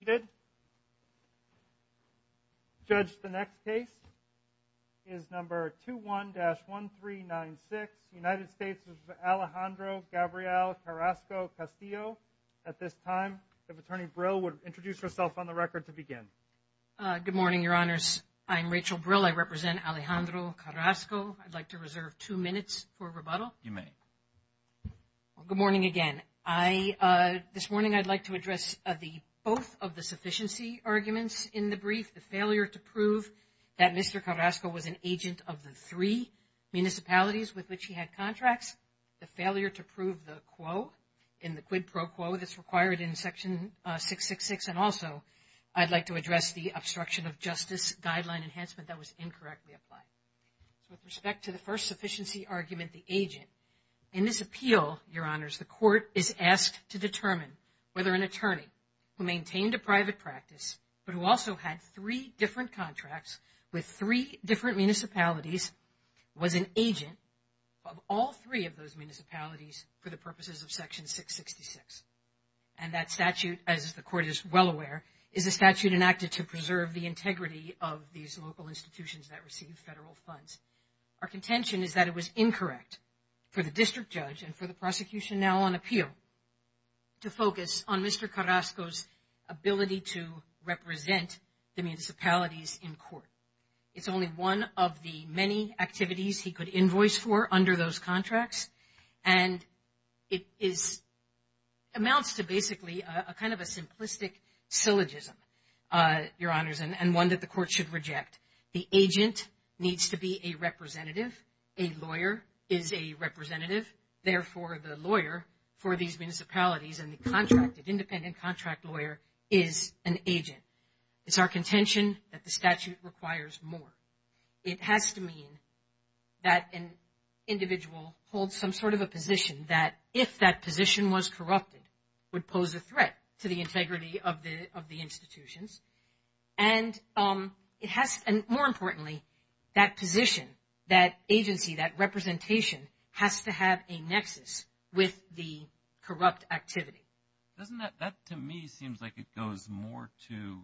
seated. Judge, the next case is number 21-1396, United States of Alejandro Gabriel Carrasco Castillo. At this time, the attorney Brill would introduce herself on the record to begin. Good morning, your honors. I'm Rachel Brill. I represent Alejandro Carrasco. I'd like to reserve two minutes for rebuttal. You may. Good morning again. This morning, I'd like to address the both of the sufficiency arguments in the brief, the failure to prove that Mr. Carrasco was an agent of the three municipalities with which he had contracts, the failure to prove the quo in the quid pro quo that's required in section 666, and also I'd like to address the obstruction of justice guideline enhancement that was incorrectly applied. So with respect to the first sufficiency argument, the agent, in this appeal, your honors, the court is asked to determine whether an attorney who maintained a private practice but who also had three different contracts with three different municipalities was an agent of all three of those municipalities for the purposes of section 666. And that statute, as the court is well aware, is a statute enacted to preserve the integrity of these local institutions that receive federal funds. Our contention is that it was incorrect for the district judge and for the prosecution now on appeal to focus on Mr. Carrasco's ability to represent the municipalities in court. It's only one of the many activities he could invoice for under those contracts, and it amounts to basically a kind of a simplistic syllogism, your honors, and one that the court should reject. The agent needs to be a representative, a lawyer is a representative, therefore the lawyer for these municipalities and the contracted independent contract lawyer is an agent. It's our contention that the statute requires more. It has to mean that an individual holds some sort of a position that if that position was corrupted would pose a threat to the integrity of the institutions. And more importantly, that position, that agency, that representation has to have a nexus with the corrupt activity. Doesn't that to me seems like it goes more to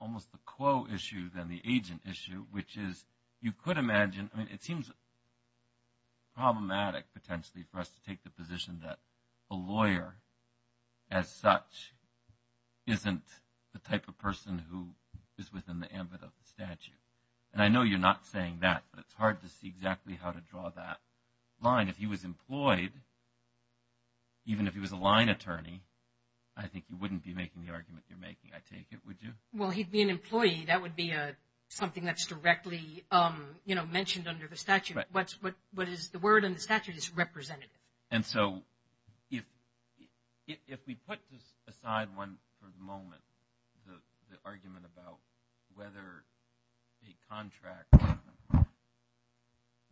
almost the quo issue than the agent issue, which is you could imagine, I mean it seems problematic potentially for us to take the position that a lawyer as such isn't the type of person who is within the ambit of the statute. And I know you're not saying that, but it's hard to see exactly how to draw that line. If he was employed, even if he was a line attorney, I think you wouldn't be making the argument you're making, I take it, would you? Well, he'd be an employee. That would be something that's directly, you know, mentioned under the statute. What is the word in the statute is representative. And so if we put aside one for the moment, the argument about whether a contract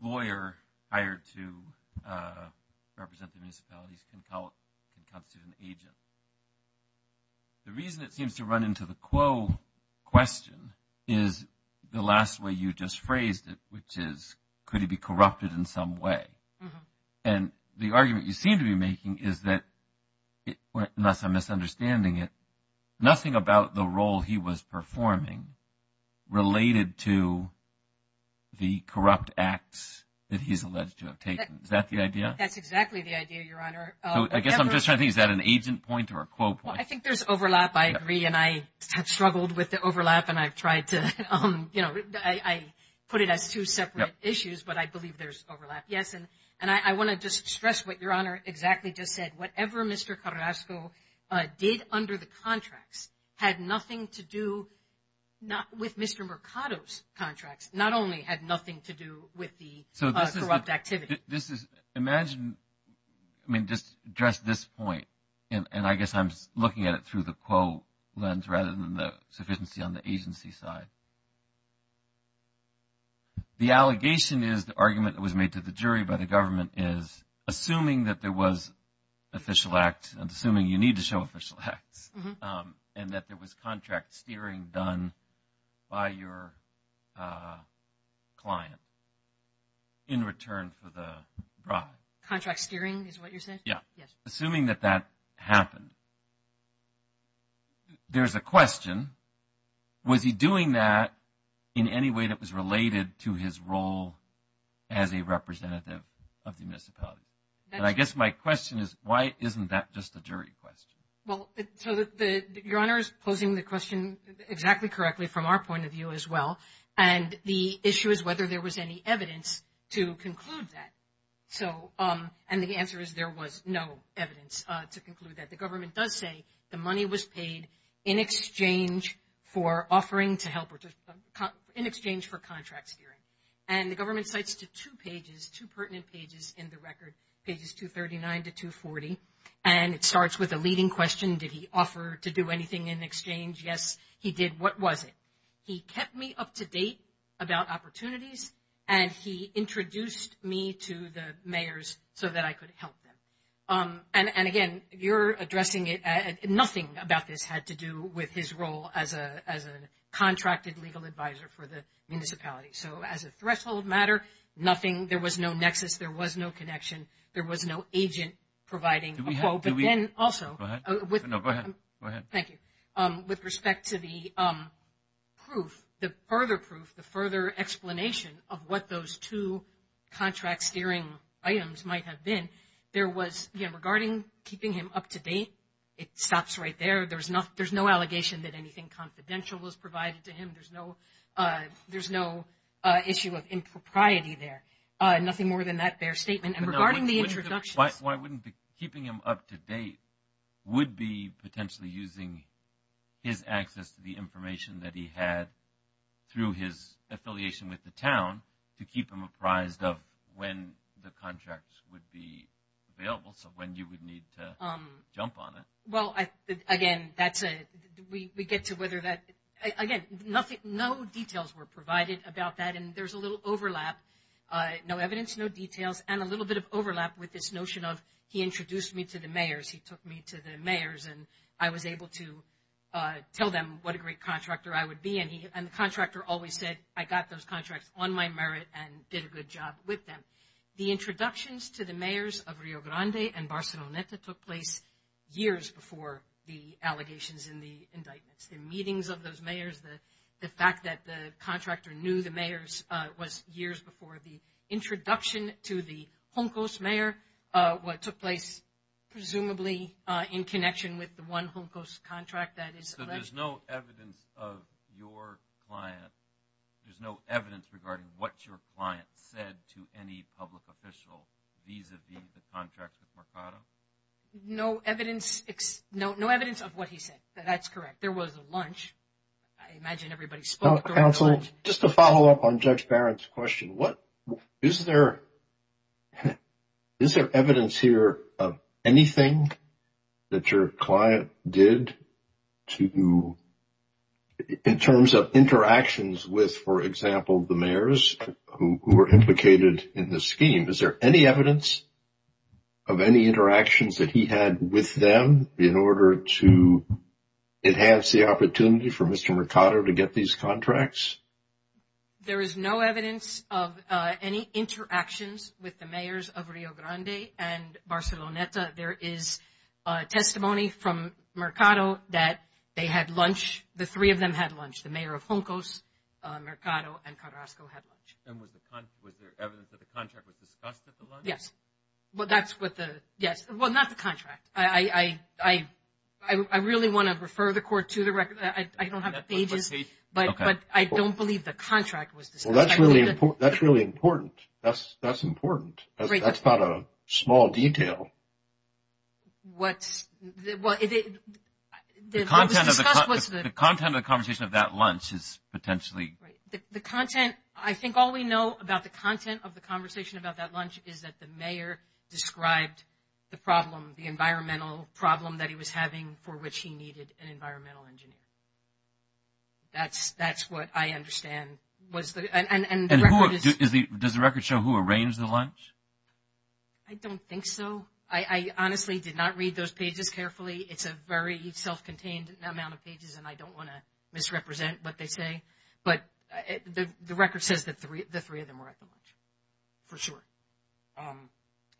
lawyer hired to represent the municipalities can constitute an agent. The reason it seems to run into the quo question is the last way you just phrased it, which is could he be corrupted in some way? And the argument you seem to be making is that, unless I'm misunderstanding it, nothing about the role he was performing related to the corrupt acts that he's alleged to have taken. Is that the idea? That's exactly the idea, Your Honor. I guess I'm just trying to think, is that an agent point or a quo point? I think there's overlap. I agree. And I have struggled with the overlap and I've tried to, you know, I put it as two separate issues, but I believe there's overlap. Yes. And I want to just stress what Your Honor exactly just said. Whatever Mr. Carrasco did under the contracts had nothing to do not with Mr. Mercado's contracts, not only had nothing to do with the corrupt activity. This is imagine, I mean, just address this point. And I guess I'm looking at it through the quo lens rather than the sufficiency on the agency side. The allegation is the argument that was made to the jury by the government is assuming that there was official acts and assuming you need to show official acts and that there was contract steering done by your client in return for the bribe. Contract steering is what you're saying? Yeah. Assuming that that happened. There's a question, was he doing that in any way that was related to his role as a representative of the municipality? And I guess my question is, why isn't that just a jury question? Well, so Your Honor is posing the question exactly correctly from our point of view as well. And the issue is whether there was any evidence to conclude that. And the answer is there was no evidence to conclude that. The government does say the money was paid in exchange for offering to help or in exchange for contract steering. And the government cites to two pages, two pertinent pages in the record, pages 239 to 240. And it starts with a leading question. Did he offer to do anything in exchange? Yes, he did. What was it? He kept me up to date about opportunities and he introduced me to the mayors so that I could help them. And again, you're addressing it, nothing about this had to do with his role as a contracted legal advisor for the municipality. So as a threshold matter, nothing, there was no nexus, there was no connection, there was no agent providing a the proof, the further proof, the further explanation of what those two contract steering items might have been. There was, again, regarding keeping him up to date, it stops right there. There's no allegation that anything confidential was provided to him. There's no issue of impropriety there. Nothing more than that bare statement. And regarding the introduction. Why wouldn't keeping him up to date would be potentially using his access to the information that he had through his affiliation with the town to keep him apprised of when the contracts would be available, so when you would need to jump on it. Well, again, that's a, we get to whether that, again, nothing, no details were provided about that. And there's a little overlap, no evidence, no details, and a little bit of overlap with this notion of, he introduced me to the mayors, he took me to the mayors and I was able to tell them what a great contractor I would be. And the contractor always said, I got those contracts on my merit and did a good job with them. The introductions to the mayors of Rio Grande and Barcelona took place years before the allegations in the indictments. The meetings of those mayors, the fact that the introduction to the Juncos mayor took place presumably in connection with the one Juncos contract that is alleged. So there's no evidence of your client, there's no evidence regarding what your client said to any public official vis-a-vis the contracts with Mercado? No evidence, no evidence of what he said. That's correct. There was a lunch, I imagine everybody spoke. Counselor, just to follow up on Judge Barrett's question, is there evidence here of anything that your client did to, in terms of interactions with, for example, the mayors who were implicated in the scheme? Is there any evidence of any interactions that he had with them in order to enhance the opportunity for Mr. Mercado to get these contracts? There is no evidence of any interactions with the mayors of Rio Grande and Barceloneta. There is testimony from Mercado that they had lunch, the three of them had lunch, the mayor of Juncos, Mercado, and Carrasco had lunch. And was there evidence that the contract was discussed at the lunch? Yes. Well, that's what the, yes. Well, not the contract. I really want to refer the court to the record. I don't have the pages, but I don't believe the contract was discussed. Well, that's really important. That's important. That's not a small detail. What's, well, the content of the conversation of that lunch is potentially... The content, I think all we know about the content of the conversation about that lunch is that the mayor described the problem, the environmental problem that he was having for which he needed an environmental engineer. That's what I understand was the... And the record is... Does the record show who arranged the lunch? I don't think so. I honestly did not read those pages carefully. It's a very self-contained amount of pages, and I don't want to misrepresent what they say. But the record says that the three of them were at the lunch, for sure.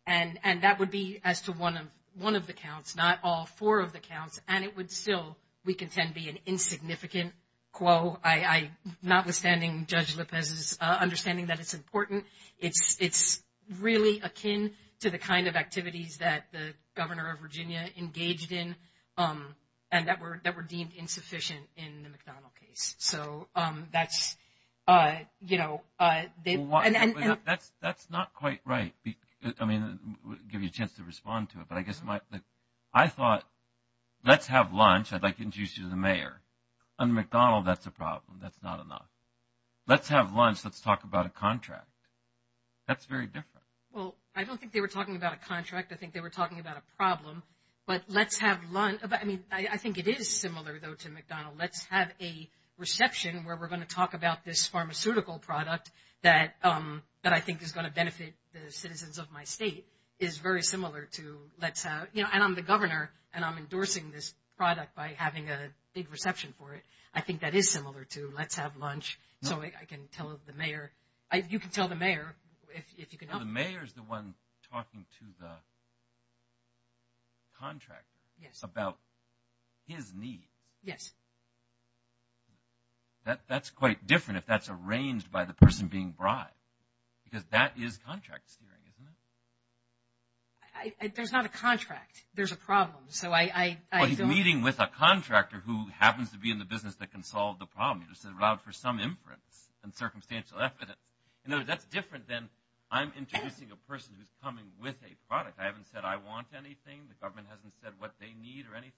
And that would be as to one of the counts, not all four of the counts. And it would still, we contend, be an insignificant quo, notwithstanding Judge Lopez's understanding that it's important. It's really akin to the kind of activities that the governor of Virginia engaged in and that were deemed insufficient in the McDonnell case. So that's... That's not quite right. I mean, give you a chance to respond to it. But I guess my... I thought, let's have lunch. I'd like to introduce you to the mayor. Under McDonnell, that's a problem. That's not enough. Let's have lunch. Let's talk about a contract. That's very different. Well, I don't think they were talking about a contract. I think they were talking about a problem. But let's have lunch... I mean, I think it is similar, though, to McDonnell. Let's have a reception where we're going to talk about this pharmaceutical product that I think is going to benefit the citizens of my state is very similar to let's have... And I'm the governor and I'm endorsing this product by having a big reception for it. I think that is similar to let's have lunch. So I can tell the mayor... You can tell the mayor if you can help. The mayor is the one talking to the contractor about his needs. Yes. That's quite different if that's arranged by the person being bribed. Because that is contract steering, isn't it? There's not a contract. There's a problem. So I... Well, he's meeting with a contractor who happens to be in the business that can solve the problem. It's allowed for some inference and circumstantial evidence. In other words, that's different than I'm introducing a person who's coming with a product. I haven't said I want anything. The government hasn't said what they need or anything.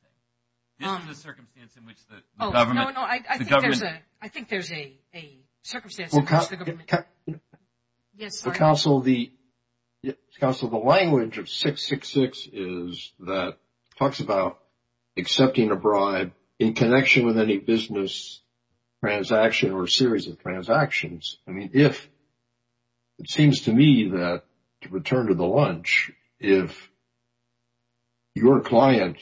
This is the circumstance in which the government... I think there's a circumstance in which the government... Yes. Council, the language of 666 is that talks about accepting a bribe in connection with any business transaction or series of transactions. I mean, if it seems to me that to return to the lunch, if your client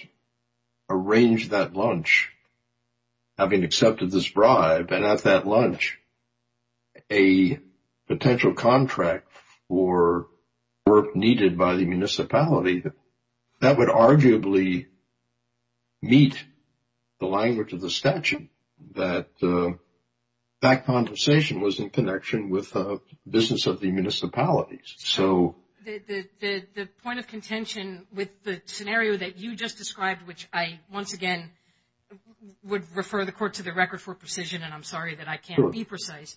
arranged that lunch, having accepted this bribe, and at that lunch, a potential contract for work needed by the municipality, that would arguably meet the language of the statute, that that compensation was in connection with the business of the municipalities. The point of contention with the scenario that you just described, which I, once again, would refer the court to the record for precision, and I'm sorry that I can't be precise.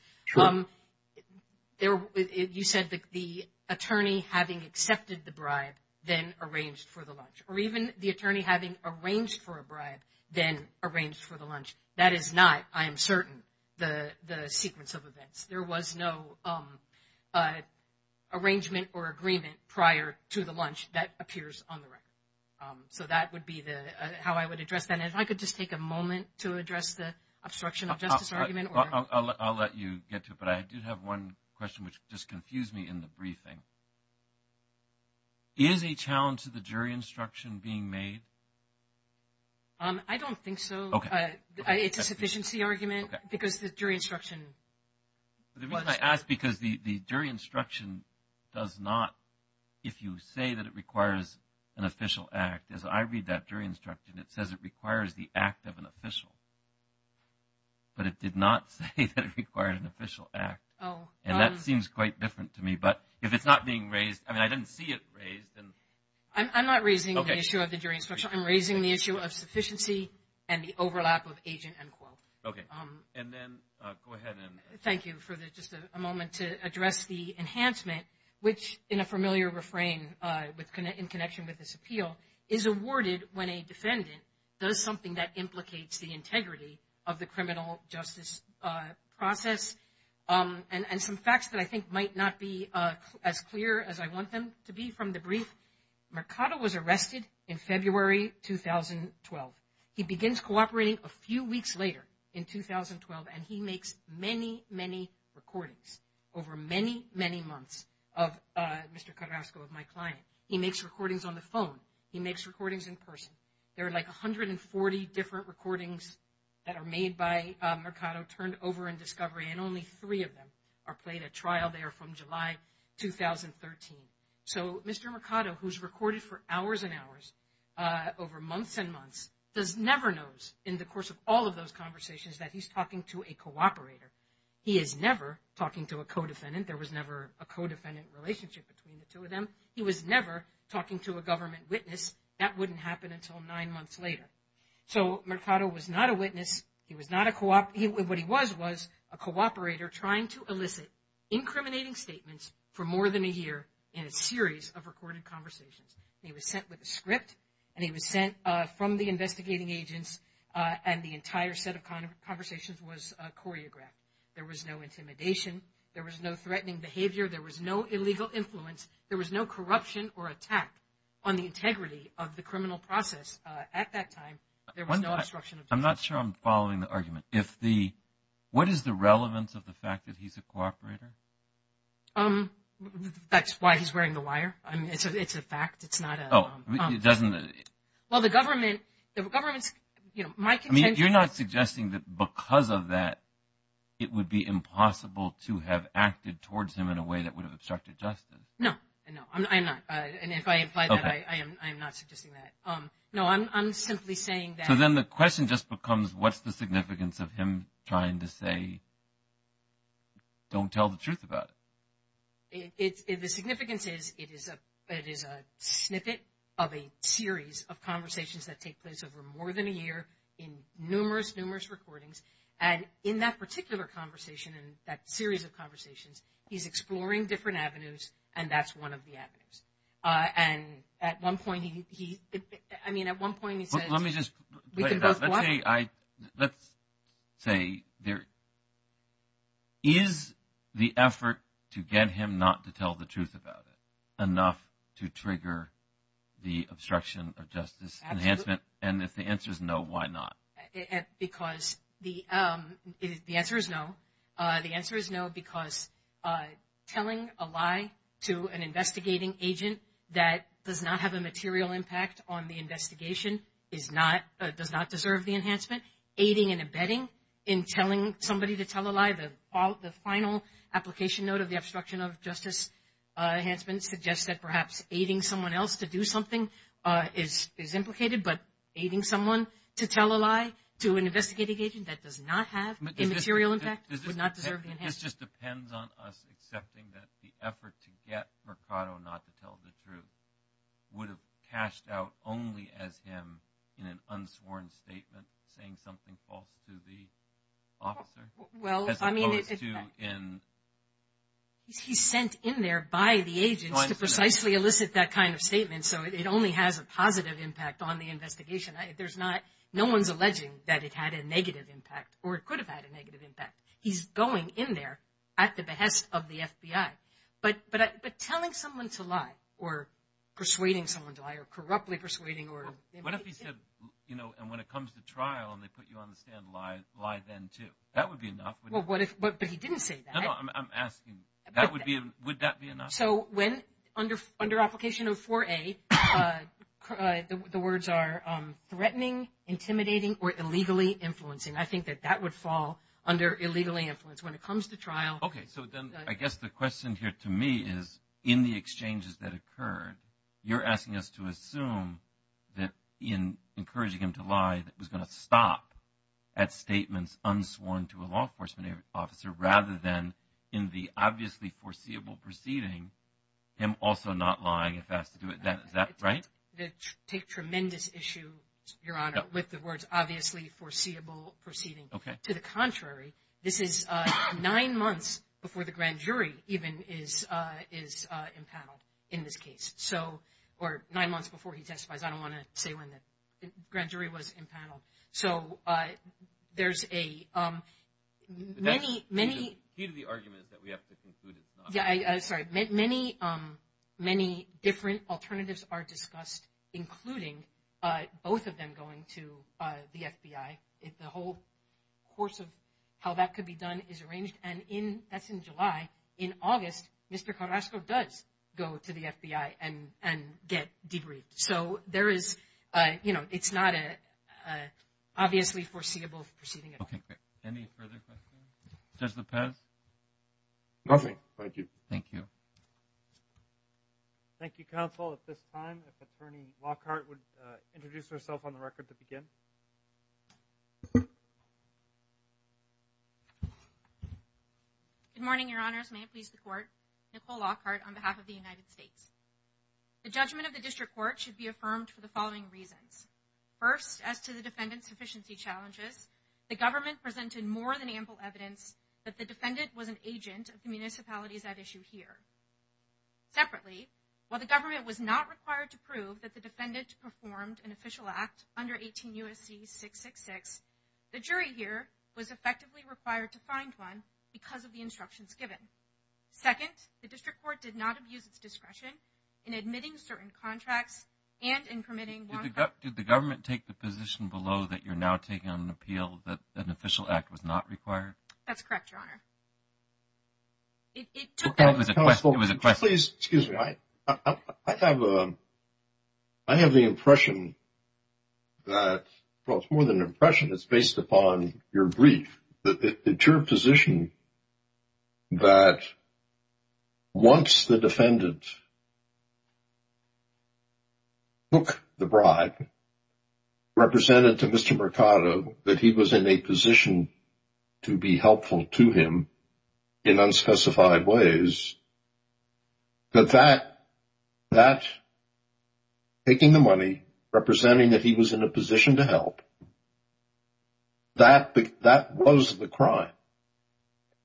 You said the attorney having accepted the bribe, then arranged for the lunch. Or even the attorney having arranged for a bribe, then arranged for the lunch. That is not, I am certain, the sequence of events. There was no arrangement or agreement prior to the lunch that appears on the record. So that would be how I would address that. If I could just take a moment to address the obstruction of justice argument. I'll let you get to it, but I do have one question which just confused me in the briefing. Is a challenge to the jury instruction being made? I don't think so. It's a sufficiency argument, because the jury instruction. The reason I ask, because the jury instruction does not, if you say that it requires an official act, as I read that jury instruction, it says it requires the act of an official. But it did not say that it required an official act. And that seems quite different to me. But if it's not being raised, I mean, I didn't see it raised. I'm not raising the issue of the jury instruction. I'm raising the issue of sufficiency and the overlap of agent and quote. Thank you for just a moment to address the enhancement, which in a familiar refrain, in connection with this appeal, is awarded when a defendant does something that implicates the integrity of the criminal justice process. And some facts that I think might not be as clear as I want them to be from the brief, Mercado was arrested in February 2012. He begins cooperating a few weeks later in 2012, and he makes many, many recordings over many, many months of Mr. Carrasco, of my client. He makes recordings on the phone. He makes recordings in person. There are like 140 different recordings that are made by Mercado turned over in discovery, and only three of them are played at trial. They are from July 2013. So Mr. Mercado, who's recorded for hours and hours over months and months, does never knows in the course of all of those conversations that he's talking to a cooperator. He is never talking to a co-defendant. There was never a co-defendant relationship between the two of them. He was never talking to a government witness. That wouldn't happen until nine months later. So Mercado was not a witness. He was not a cooperator trying to elicit incriminating statements for more than a year in a series of recorded conversations. He was sent with a script, and he was sent from the investigating agents, and the entire set of conversations was choreographed. There was no intimidation. There was no threatening behavior. There was no illegal influence. There was no corruption or attack on the integrity of the criminal process at that time. There was no obstruction of justice. I'm not sure I'm following the argument. What is the relevance of the fact that he's a cooperator? That's why he's wearing the wire. It's a fact. It's not a... Oh, it doesn't... Well, the government... You're not suggesting that because of that, it would be impossible to have acted towards him in a way that would have obstructed justice. No, I'm not. And if I imply that, I am not suggesting that. No, I'm simply saying that... Then the question just becomes, what's the significance of him trying to say, don't tell the truth about it? The significance is, it is a snippet of a series of conversations that take place over more than a year in numerous, numerous recordings. And in that particular conversation and that series of conversations, he's exploring different avenues, and that's one of the avenues. And at one point, he... I mean, at one point, he said... Let me just... Let's say, is the effort to get him not to tell the truth about it enough to trigger the obstruction of justice enhancement? And if the answer is no, why not? Because the answer is no. The answer is no because telling a lie to an investigating agent that does not have a material impact on the investigation does not deserve the enhancement. Aiding and abetting in telling somebody to tell a lie, the final application note of the obstruction of justice enhancement suggests that perhaps aiding someone else to do something is implicated, but aiding someone to tell a lie to an investigating agent that does not have a material impact would not deserve the enhancement. It just depends on us accepting that the effort to get Mercado not to tell the truth would have cashed out only as him in an unsworn statement saying something false to the officer? He's sent in there by the agents to precisely elicit that kind of statement, so it only has a positive impact on the investigation. There's not... No one's alleging that it had a negative impact or it could have had a negative impact. He's going in there at the behest of the FBI. But telling someone to lie or persuading someone to lie or corruptly persuading or... What if he said, you know, and when it comes to trial and they put you on the stand, lie then too. That would be enough. Well, what if... But he didn't say that. No, no, I'm asking, would that be enough? So when under application of 4A, the words are threatening, intimidating, or illegally influencing, I think that that would fall under illegally influenced when it comes to trial. Okay, so then I guess the question here to me is in the exchanges that occurred, you're asking us to assume that in encouraging him to lie that was going to stop at statements unsworn to a law enforcement officer rather than in the obviously foreseeable proceeding, him also not lying if asked to do it. Is that right? They take tremendous issue, Your Honor, with the words obviously foreseeable proceeding. Okay. To the contrary, this is nine months before the grand jury even is impaneled in this case. Or nine months before he testifies. I don't want to say when the grand jury was impaneled. So there's a... The key to the argument is that we have to conclude it's not. Sorry, many different alternatives are discussed, including both of them going to the FBI. The whole course of how that could be done is arranged. And that's in July. In August, Mr. Carrasco does go to the FBI and get debriefed. So there is, you know, it's not an obviously foreseeable proceeding. Okay, great. Any further questions? Judge Lopez? Nothing. Thank you. Thank you. Thank you, counsel. At this time, Attorney Lockhart would introduce herself on the record to begin. Good morning, Your Honors. May it please the Court? Nicole Lockhart on behalf of the United States. The judgment of the District Court should be affirmed for the following reasons. First, as to the defendant's sufficiency challenges, the government presented more than ample evidence that the defendant was an agent of the municipalities at issue here. Separately, while the government was not required to prove that the defendant performed an official act under 18 U.S.C. 666, the jury here was effectively required to find one because of the instructions given. Second, the District Court did not abuse its discretion in admitting certain contracts and in permitting... Did the government take the position below that you're now taking on an appeal that an official act was not required? That's correct, Your Honor. It took... That was a question. It was a question. Please, excuse me. I have the impression that... Well, it's more than an impression. It's based upon your brief. That it's your position that once the defendant took the bribe, represented to Mr. Mercado that he was in a position to be helpful to him in unspecified ways, that that... That taking the money, representing that he was in a position to help, that was the crime,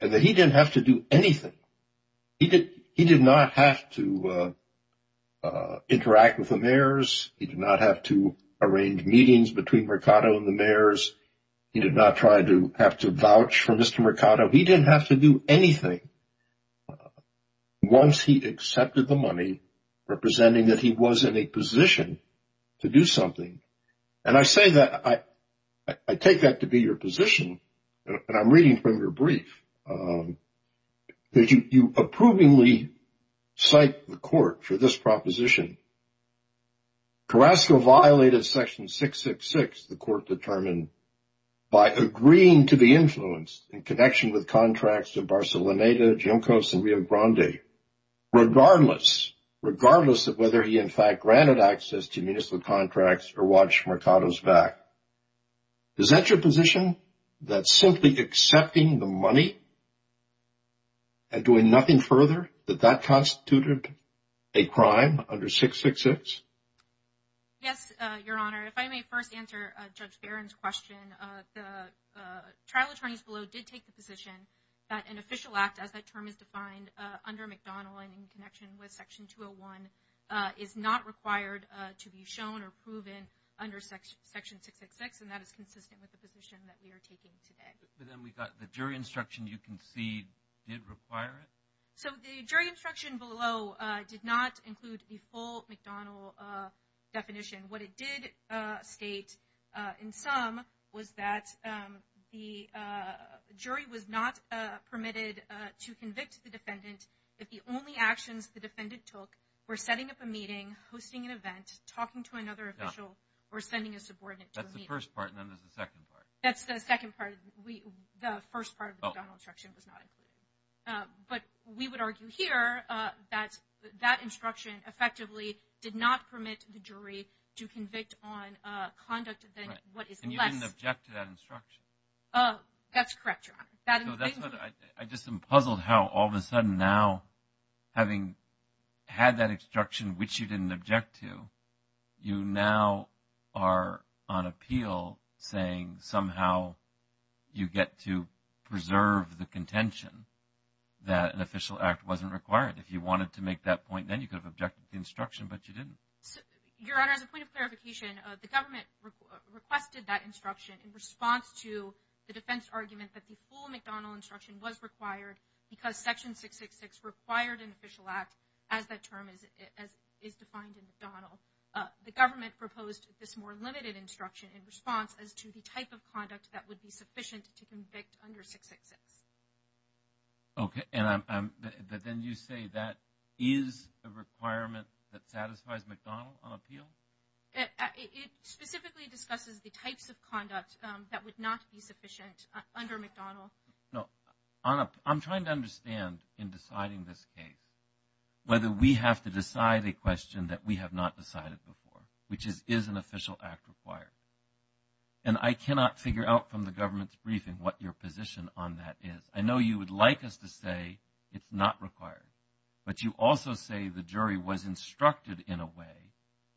and that he didn't have to do anything. He did not have to interact with the mayors. He did not have to arrange meetings between Mercado and the mayors. He did not try to have to vouch for Mr. Mercado. He didn't have to do anything once he accepted the money, representing that he was in a position to do something. And I say that, I take that to be your position, and I'm reading from your brief, that you approvingly cite the court for this proposition. Carrasco violated section 666, the court determined, by agreeing to be influenced in connection with contracts to Barceloneta, Junkos, and Rio Grande, regardless, regardless of whether he, in fact, granted access to municipal contracts or watched Mercado's back. Is that your position, that simply accepting the money and doing nothing further, that that constituted a crime under 666? Yes, Your Honor. If I may first answer Judge Barron's question, the trial attorneys below did take the position that an official act, as that term is defined under McDonnell and in connection with section 201, is not required to be shown or proven under section 666, and that is consistent with the position that we are taking today. But then we've got the jury instruction, you can see, did require it? So the jury instruction below did not include the full McDonnell definition. What it did state in sum was that the jury was not permitted to convict the defendant if the only actions the defendant took were setting up a meeting, hosting an event, talking to another official, or sending a subordinate to a meeting. That's the first part, and then there's the second part. That's the second part. The first part of the McDonnell instruction was not included. But we would argue here that that instruction effectively did not permit the jury to convict on conduct than what is less. And you didn't object to that instruction? That's correct, Your Honor. I just am puzzled how all of a sudden now, having had that instruction which you didn't object to, you now are on appeal saying somehow you get to preserve the contention that an official act wasn't required. If you wanted to make that point, then you could have objected to the instruction, but you didn't. Your Honor, as a point of clarification, the government requested that instruction in response to the defense argument that the full McDonnell instruction was required because Section 666 required an official act as that term is defined in McDonnell. The government proposed this more limited instruction in response as to the type of conduct that would be sufficient to convict under 666. Okay, and then you say that is a requirement that satisfies McDonnell on appeal? It specifically discusses the types of conduct that would not be sufficient under McDonnell. No, I'm trying to understand in deciding this case whether we have to decide a question that we have not decided before, which is, is an official act required? And I cannot figure out from the government's briefing what your position on that is. I know you would like us to say it's not required, but you also say the jury was instructed in a way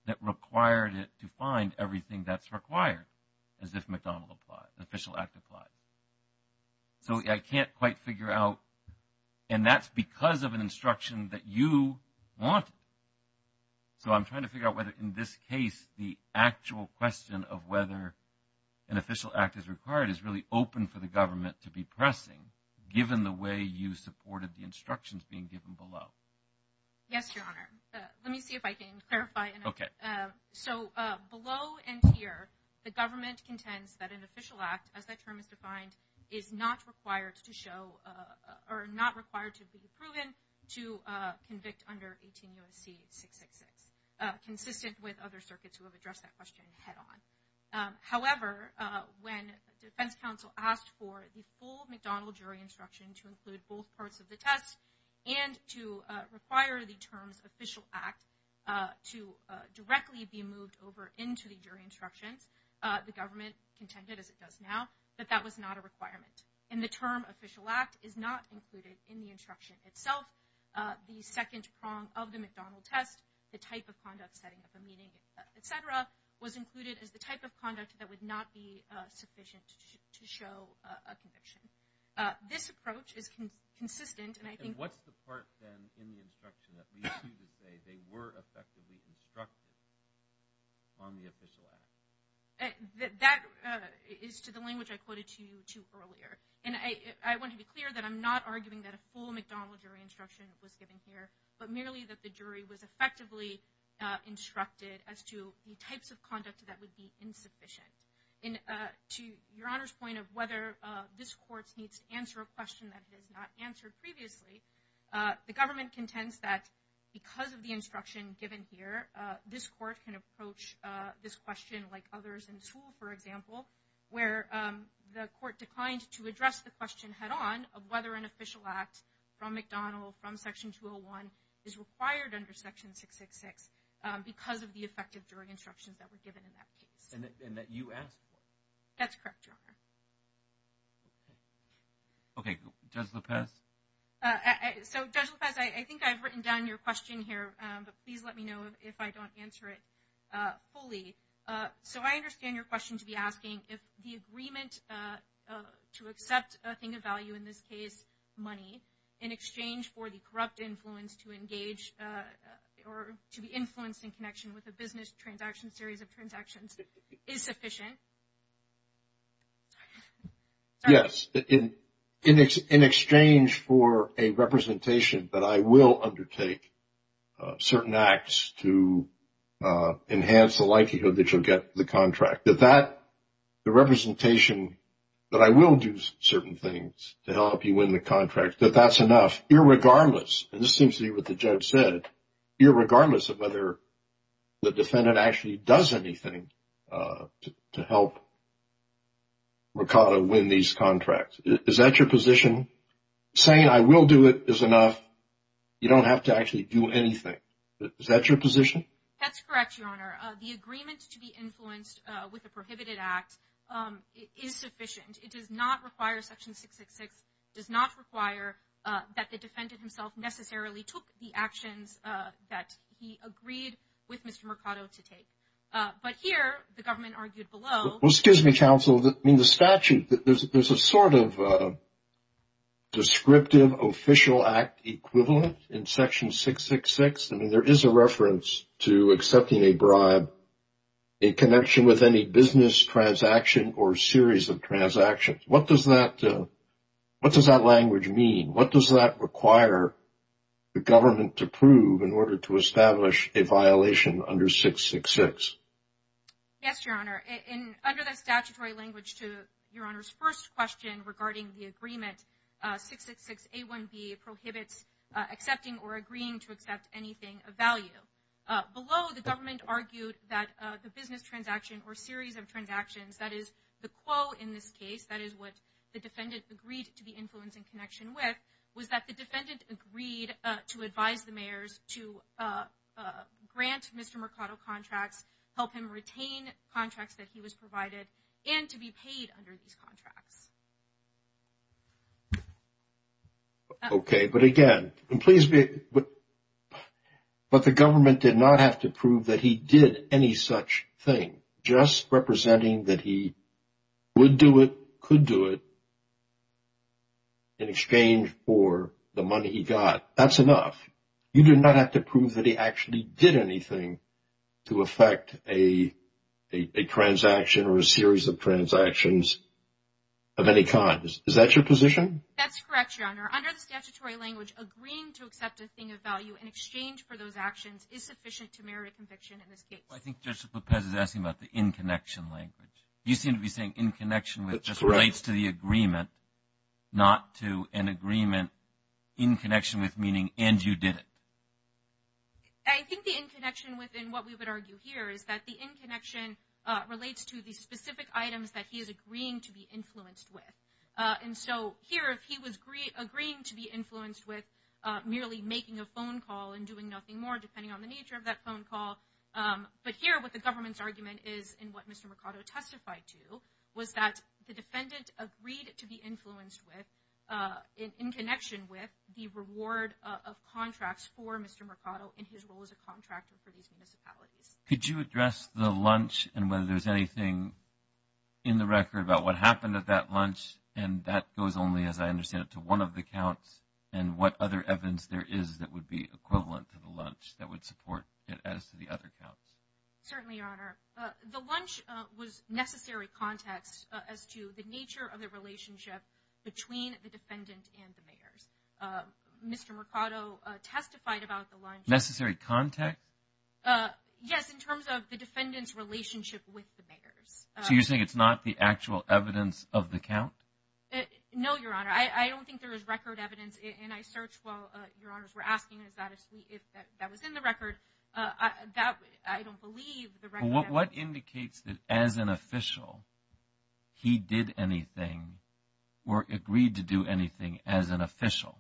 that required it to find everything that's required as if McDonnell applied, the official act applied. So, I can't quite figure out, and that's because of an instruction that you wanted. So, I'm trying to figure out whether in this case the actual question of whether an official act is required is really open for the government to be pressing, given the way you supported the instructions being given below. Yes, Your Honor. Let me see if I can clarify. Okay. So, below and here, the government contends that an official act, as that term is defined, is not required to show, or not required to be proven to convict under 18 U.S.C. 666, consistent with other circuits who have addressed that question head on. However, when the defense counsel asked for the full McDonnell jury instruction to include both parts of the test and to require the terms official act to directly be moved over into the jury instructions, the government contended, as it does now, that that was not a requirement. And the term official act is not included in the instruction itself. The second prong of the McDonnell test, the type of conduct setting up a meeting, et cetera, was included as the type of conduct that would not be sufficient to show a conviction. This approach is consistent, and I think... And what's the part, then, in the instruction that leads you to say they were effectively instructed on the official act? That is to the language I quoted to you to earlier. And I want to be clear that I'm not arguing that a full McDonnell jury instruction was given here, but merely that the jury was effectively instructed as to the types of conduct that would be insufficient. And to Your Honor's of whether this court needs to answer a question that it has not answered previously, the government contends that because of the instruction given here, this court can approach this question like others in the school, for example, where the court declined to address the question head on of whether an official act from McDonnell, from Section 201, is required under Section 666 because of the effective jury instructions that were given in that case. And that you asked for. That's correct, Your Honor. Okay. Judge Lopez? So, Judge Lopez, I think I've written down your question here, but please let me know if I don't answer it fully. So, I understand your question to be asking if the agreement to accept a thing of value, in this case, money, in exchange for the corrupt influence to engage or to be influenced in connection with a business transaction series of transactions is sufficient? Yes. In exchange for a representation that I will undertake certain acts to enhance the likelihood that you'll get the contract, that that, the representation that I will do certain things to help you win the contract, that that's enough, irregardless, and this seems to be what the judge said, irregardless of whether the defendant actually does anything to help Mercado win these contracts. Is that your position? Saying I will do it is enough. You don't have to actually do anything. Is that your position? That's correct, Your Honor. The agreement to be influenced with a prohibited act is sufficient. It does not require, Section 666 does not require that the defendant himself necessarily took the actions that he agreed with Mr. Mercado to take. But here, the government argued below. Well, excuse me, counsel. I mean, the statute, there's a sort of descriptive official act equivalent in Section 666. I mean, there is a reference to accepting a bribe in connection with any business transaction or series of transactions. What does that, what does that language mean? What does that require the government to prove in order to establish a violation under 666? Yes, Your Honor. Under the statutory language to Your Honor's first question regarding the agreement, 666A1B prohibits accepting or agreeing to accept anything of value. Below, the government argued that the business transaction or series of transactions, that is the quo in this case, that is what the defendant agreed to be influenced in connection with, was that the defendant agreed to advise the mayors to grant Mr. Mercado contracts, help him retain contracts that he was provided, and to be paid under these contracts. Okay, but again, and please be, but the government did not have to prove that he did any such thing, just representing that he would do it, could do it, in exchange for the money he got. That's enough. You do not have to prove that he actually did anything to affect a transaction or a series of transactions of any kind. Is that your position? That's correct, Your Honor. Under the statutory language, agreeing to accept a thing of value in exchange for those actions is sufficient to merit a conviction in this case. I think Justice Lopez is asking about the in-connection language. You seem to be saying in connection with just relates to the agreement, not to an agreement in connection with meaning and you did it. I think the in-connection within what we would argue here is that the in-connection relates to the specific items that he is agreeing to be influenced with. And so here, if he was agreeing to be influenced with merely making a phone call and doing nothing more, depending on the nature of that phone call, but here what the government's argument is, and what Mr. Mercado testified to, was that the defendant agreed to be influenced with, in connection with, the reward of contracts for Mr. Mercado in his role as a contractor for these municipalities. Could you address the lunch and whether there's anything in the record about what happened at that lunch and that goes only, as I understand it, to one of the counts and what other evidence there is that would be equivalent to the lunch that would support it as to the other counts? Certainly, Your Honor. The lunch was necessary context as to the nature of the relationship between the defendant and the mayors. Mr. Mercado testified about the lunch... Necessary context? Yes, in terms of the defendant's relationship with the mayors. So you're saying it's not the actual evidence of the count? No, Your Honor. I don't think there is record evidence, and I searched while Your Honors were asking if that was in the record. I don't believe the record... What indicates that, as an official, he did anything or agreed to do anything as an official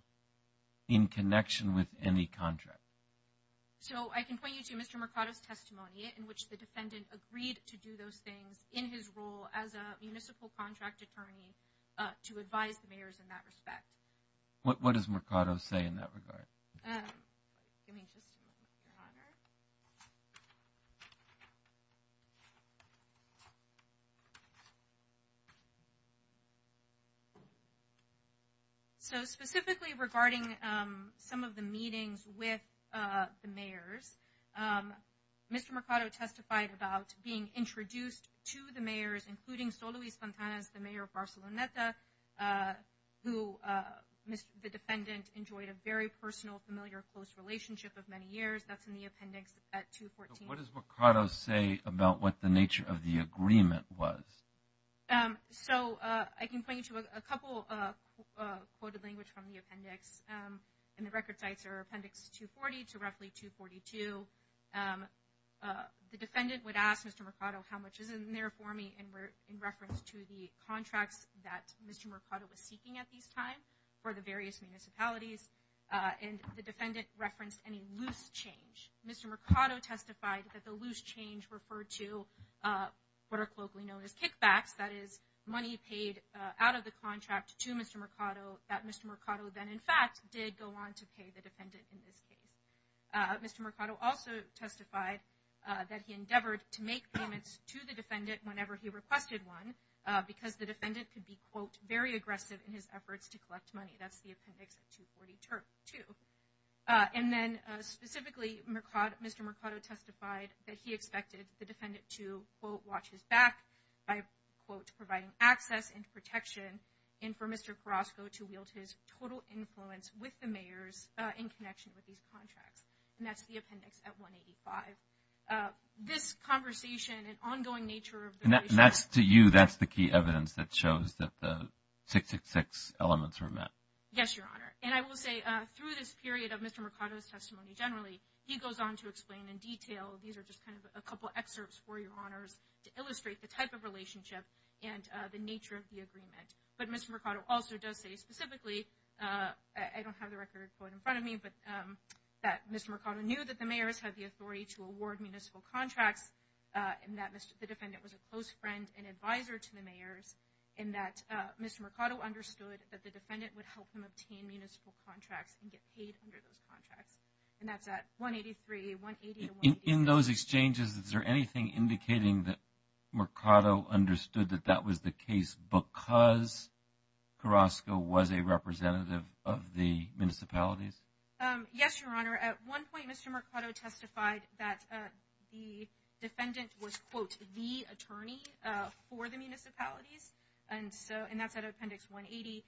in connection with any contract? So I can point to Mr. Mercado's testimony in which the defendant agreed to do those things in his role as a municipal contract attorney to advise the mayors in that respect. What does Mercado say in that regard? Give me just a moment, Your Honor. So specifically regarding some of the meetings with the mayors, Mr. Mercado testified about being introduced to the mayors, including Soluiz-Fontanez, the mayor of Barceloneta, who the defendant enjoyed a very personal, familiar, close relationship of many years. That's in the appendix at 214. What does Mercado say about what the nature of the agreement was? So I can point you to a couple of quoted language from the appendix, and the record sites are appendix 240 to roughly 242. The defendant would ask Mr. Mercado how much is in there for me in reference to the contracts that Mr. Mercado was seeking at this time for the various municipalities, and the defendant referenced any loose change. Mr. Mercado testified that the loose change referred to what are colloquially known as kickbacks, that is money paid out of the contract to Mr. Mercado that Mr. Mercado then in fact did go on to pay the defendant in this case. Mr. Mercado also testified that he endeavored to make payments to the defendant whenever he requested one because the defendant could be, quote, very aggressive in his efforts to collect money. That's the appendix at 242. And then specifically, Mr. Mercado testified that he expected the defendant to, quote, watch his back by, quote, providing access and protection and for Mr. Carrasco to wield his total influence with the mayors in connection with these contracts. And that's the appendix at 185. This conversation and ongoing nature of the relationship. And that's to you, that's the key evidence that shows that the 666 elements were met. Yes, Your Honor. And I will say through this period of Mr. Mercado's testimony generally, he goes on to explain in detail. These are just kind of a couple excerpts for Your Honors to illustrate the type of relationship and the nature of the agreement. But Mr. Mercado also does say specifically, I don't have the record in front of me, but that Mr. Mercado knew that the mayors had the authority to award municipal contracts and that the defendant was a close friend and advisor to the mayors. And that Mr. Mercado understood that the defendant would help him obtain municipal contracts and get paid under those contracts. And that's at 183, 180. In those exchanges, is there anything indicating that Mercado understood that that was the case because Carrasco was a representative of the municipalities? Yes, Your Honor. At one point, Mr. Mercado testified that the defendant was, quote, the attorney for the municipalities. And that's at appendix 180.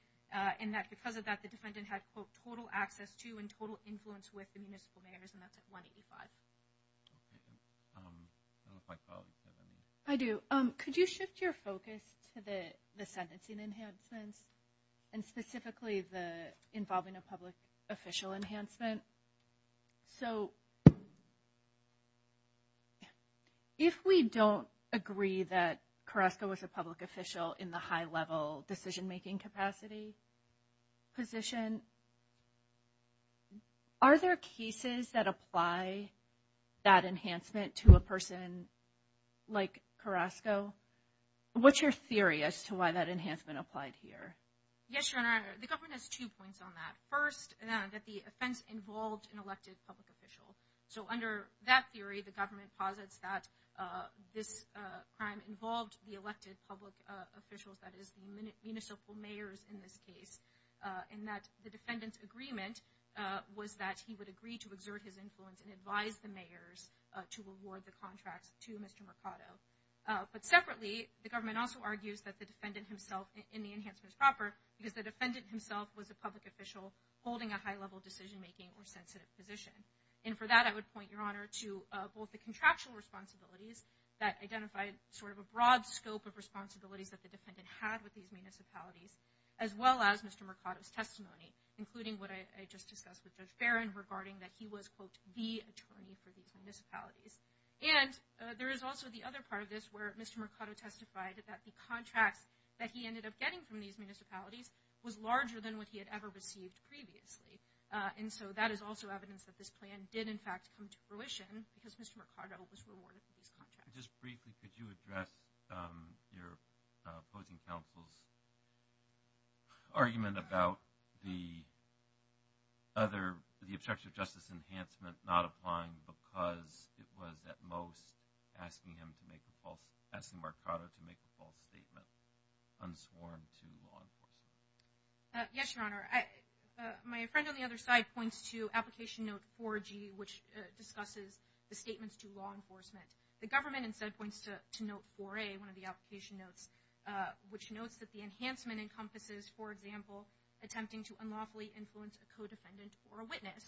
And that because of that, the defendant had, quote, total access to and total influence with the municipal mayors. And that's at 185. I do. Could you shift your focus to the sentencing enhancements and specifically the involving a public official enhancement? So if we don't agree that Carrasco was a public official in the high-level decision-making capacity position, are there cases that apply that enhancement to a person like Carrasco? What's your theory as to why that enhancement applied here? Yes, Your Honor. The government has two points on that. First, that the offense involved an elected public official. So under that theory, the government posits that this crime involved the elected public officials, that is, municipal mayors in this case. And that the defendant's agreement was that he would agree to exert his influence and advise the mayors to award the contract to Mr. Mercado. But separately, the government also argues that the defendant himself in the enhancement is proper because the defendant himself was a public official holding a high-level decision-making or sensitive position. And for that, I would point, Your Honor, to both the scope of responsibilities that the defendant had with these municipalities, as well as Mr. Mercado's testimony, including what I just discussed with Judge Farron regarding that he was, quote, the attorney for these municipalities. And there is also the other part of this where Mr. Mercado testified that the contracts that he ended up getting from these municipalities was larger than what he had ever received previously. And so that is also evidence that this plan did, in fact, come to fruition because Mr. Mercado was rewarded for these contracts. Just briefly, could you address your opposing counsel's argument about the other, the obstruction of justice enhancement not applying because it was, at most, asking him to make a false, asking Mercado to make a false statement unsworn to law enforcement? Yes, Your Honor. My friend on the other side points to Application Note 4G, which discusses the statements to law enforcement. The government, instead, points to Note 4A, one of the application notes, which notes that the enhancement encompasses, for example, attempting to unlawfully influence a co-defendant or a witness.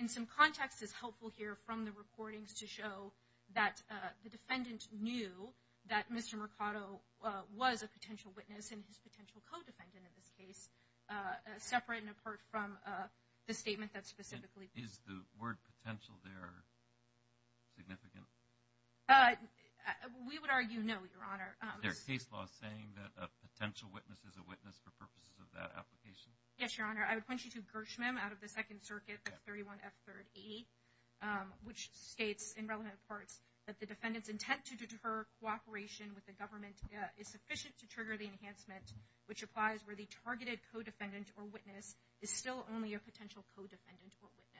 In some context, it's helpful here from the recordings to show that the defendant knew that Mr. Mercado was a potential witness and his potential co-defendant in this case, separate and apart from the statement that specifically... Is the word potential there significant? We would argue no, Your Honor. There is case law saying that a potential witness is a witness for purposes of that application? Yes, Your Honor. I would point you to Gershman out of the Second Circuit, 31F38, which states, in relevant parts, that the defendant's intent to deter cooperation with government is sufficient to trigger the enhancement, which applies where the targeted co-defendant or witness is still only a potential co-defendant or witness.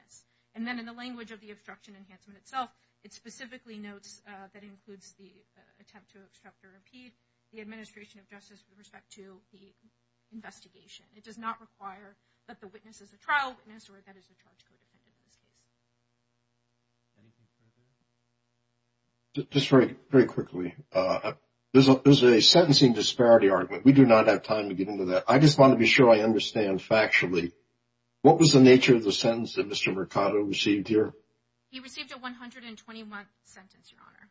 And then in the language of the obstruction enhancement itself, it specifically notes that includes the attempt to obstruct or impede the administration of justice with respect to the investigation. It does not require that the witness is a trial witness or that is a charged co-defendant in this case. There's a sentencing disparity argument. We do not have time to get into that. I just want to be sure I understand factually, what was the nature of the sentence that Mr. Mercado received here? He received a 121th sentence, Your Honor.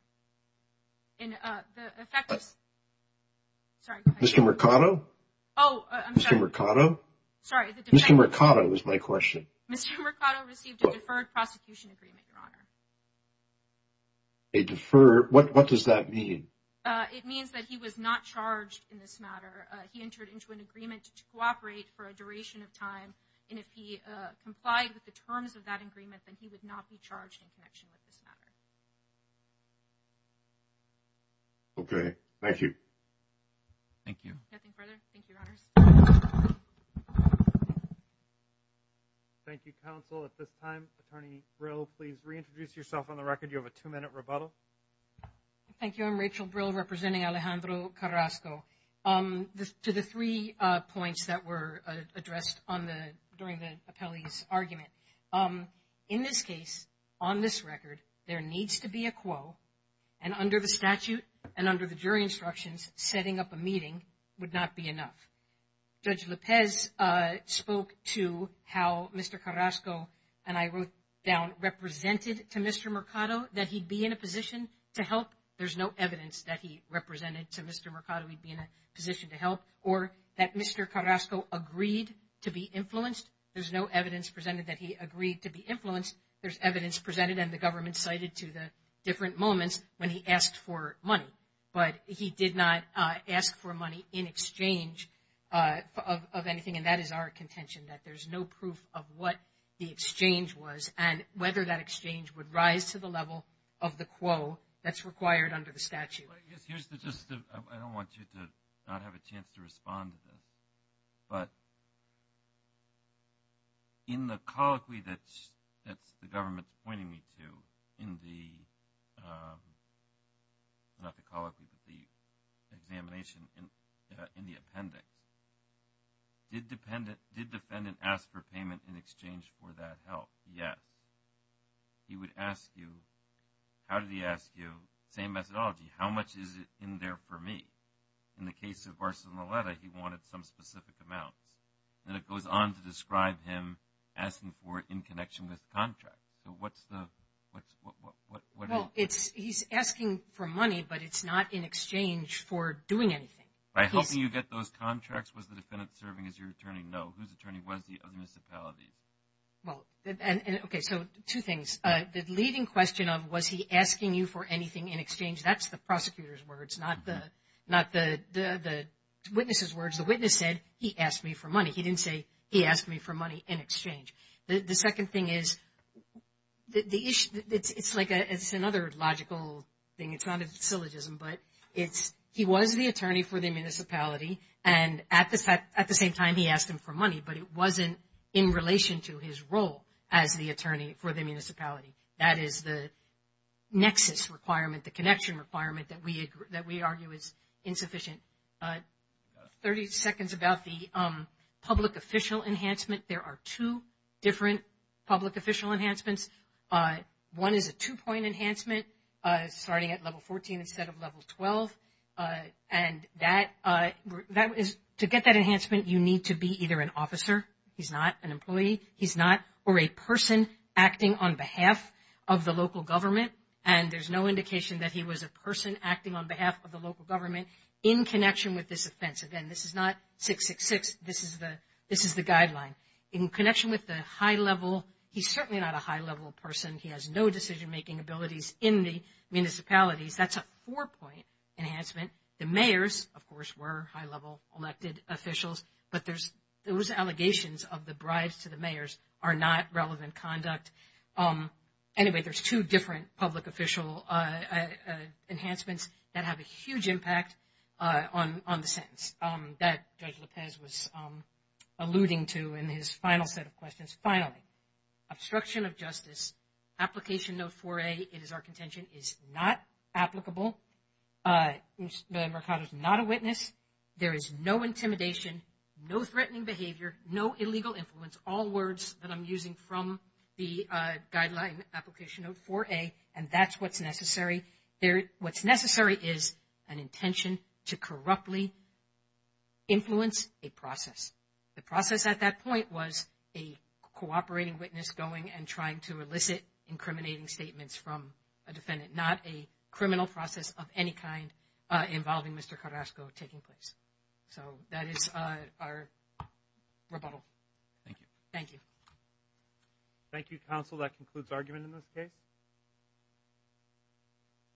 And the effect is... Sorry. Mr. Mercado? Oh, I'm sorry. Mr. Mercado? Sorry. Mr. Mercado is my question. Mr. Mercado received a deferred charge. He entered into an agreement to cooperate for a duration of time. And if he complied with the terms of that agreement, then he would not be charged in connection with this matter. Okay. Thank you. Thank you. Nothing further. Thank you, Your Honors. Thank you, counsel. At this time, Attorney Brill, please reintroduce yourself on the record. You have a two-minute rebuttal. Thank you. I'm Rachel Brill, representing Alejandro Carrasco. To the three points that were addressed during the appellee's argument. In this case, on this record, there needs to be a quo. And under the statute and under the jury instructions, setting up a meeting would not be enough. Judge Lopez spoke to how Mr. Carrasco and I wrote down represented to Mr. Mercado that he'd be in a position to help. There's no evidence that he represented to Mr. Mercado he'd be in a position to help. Or that Mr. Carrasco agreed to be influenced. There's no evidence presented that he agreed to be influenced. There's evidence presented and the government cited to the different moments when he asked for money. But he did not ask for money in exchange of anything. And that is our contention, that there's no proof of what the exchange was and whether that exchange would rise to the level of the quo that's required under the statute. I don't want you to not have a chance to respond to this. But in the colloquy that the government's pointing me to in the, not the colloquy, but the payment in exchange for that help. Yes. He would ask you, how did he ask you? Same methodology. How much is it in there for me? In the case of Arsenaleta, he wanted some specific amounts. Then it goes on to describe him asking for it in connection with contracts. So what's the, what's, what, what, what? Well, it's, he's asking for money, but it's not in exchange for doing anything. By helping you get those contracts, was the defendant serving as your attorney? No. Whose attorney was he of the municipality? Well, and okay, so two things. The leading question of, was he asking you for anything in exchange? That's the prosecutor's words, not the, not the witness's words. The witness said, he asked me for money. He didn't say, he asked me for money in exchange. The second thing is, the issue, it's like a, it's another logical thing. It's not a syllogism, but it's, he was the attorney for the municipality. And at the, at the same time, he asked him for money, but it wasn't in relation to his role as the attorney for the municipality. That is the nexus requirement, the connection requirement, that we, that we argue is insufficient. 30 seconds about the public official enhancement. There are two different public official enhancements. One is a two-point enhancement, starting at level 14 instead of level 12. And that, that is, to get that enhancement, you need to be either an officer, he's not, an employee, he's not, or a person acting on behalf of the local government. And there's no indication that he was a person acting on behalf of the local government in connection with this offense. Again, this is not 666, this is the, this is the guideline. In connection with the high level, he's certainly not a high level person. He has no decision-making abilities in the municipalities. That's a four-point enhancement. The mayors, of course, were high level elected officials, but there's, those allegations of the bribes to the mayors are not relevant conduct. Anyway, there's two different public official enhancements that have a huge impact on, on the sentence that Judge Lopez was alluding to in his final set of it is our contention is not applicable. The Mercado is not a witness. There is no intimidation, no threatening behavior, no illegal influence, all words that I'm using from the guideline application note 4A, and that's what's necessary. There, what's necessary is an intention to corruptly influence a process. The process at that point was a cooperating witness going and trying to elicit incriminating statements from a defendant, not a criminal process of any kind involving Mr. Carrasco taking place. So that is our rebuttal. Thank you. Thank you. Thank you, counsel. That concludes argument in this case.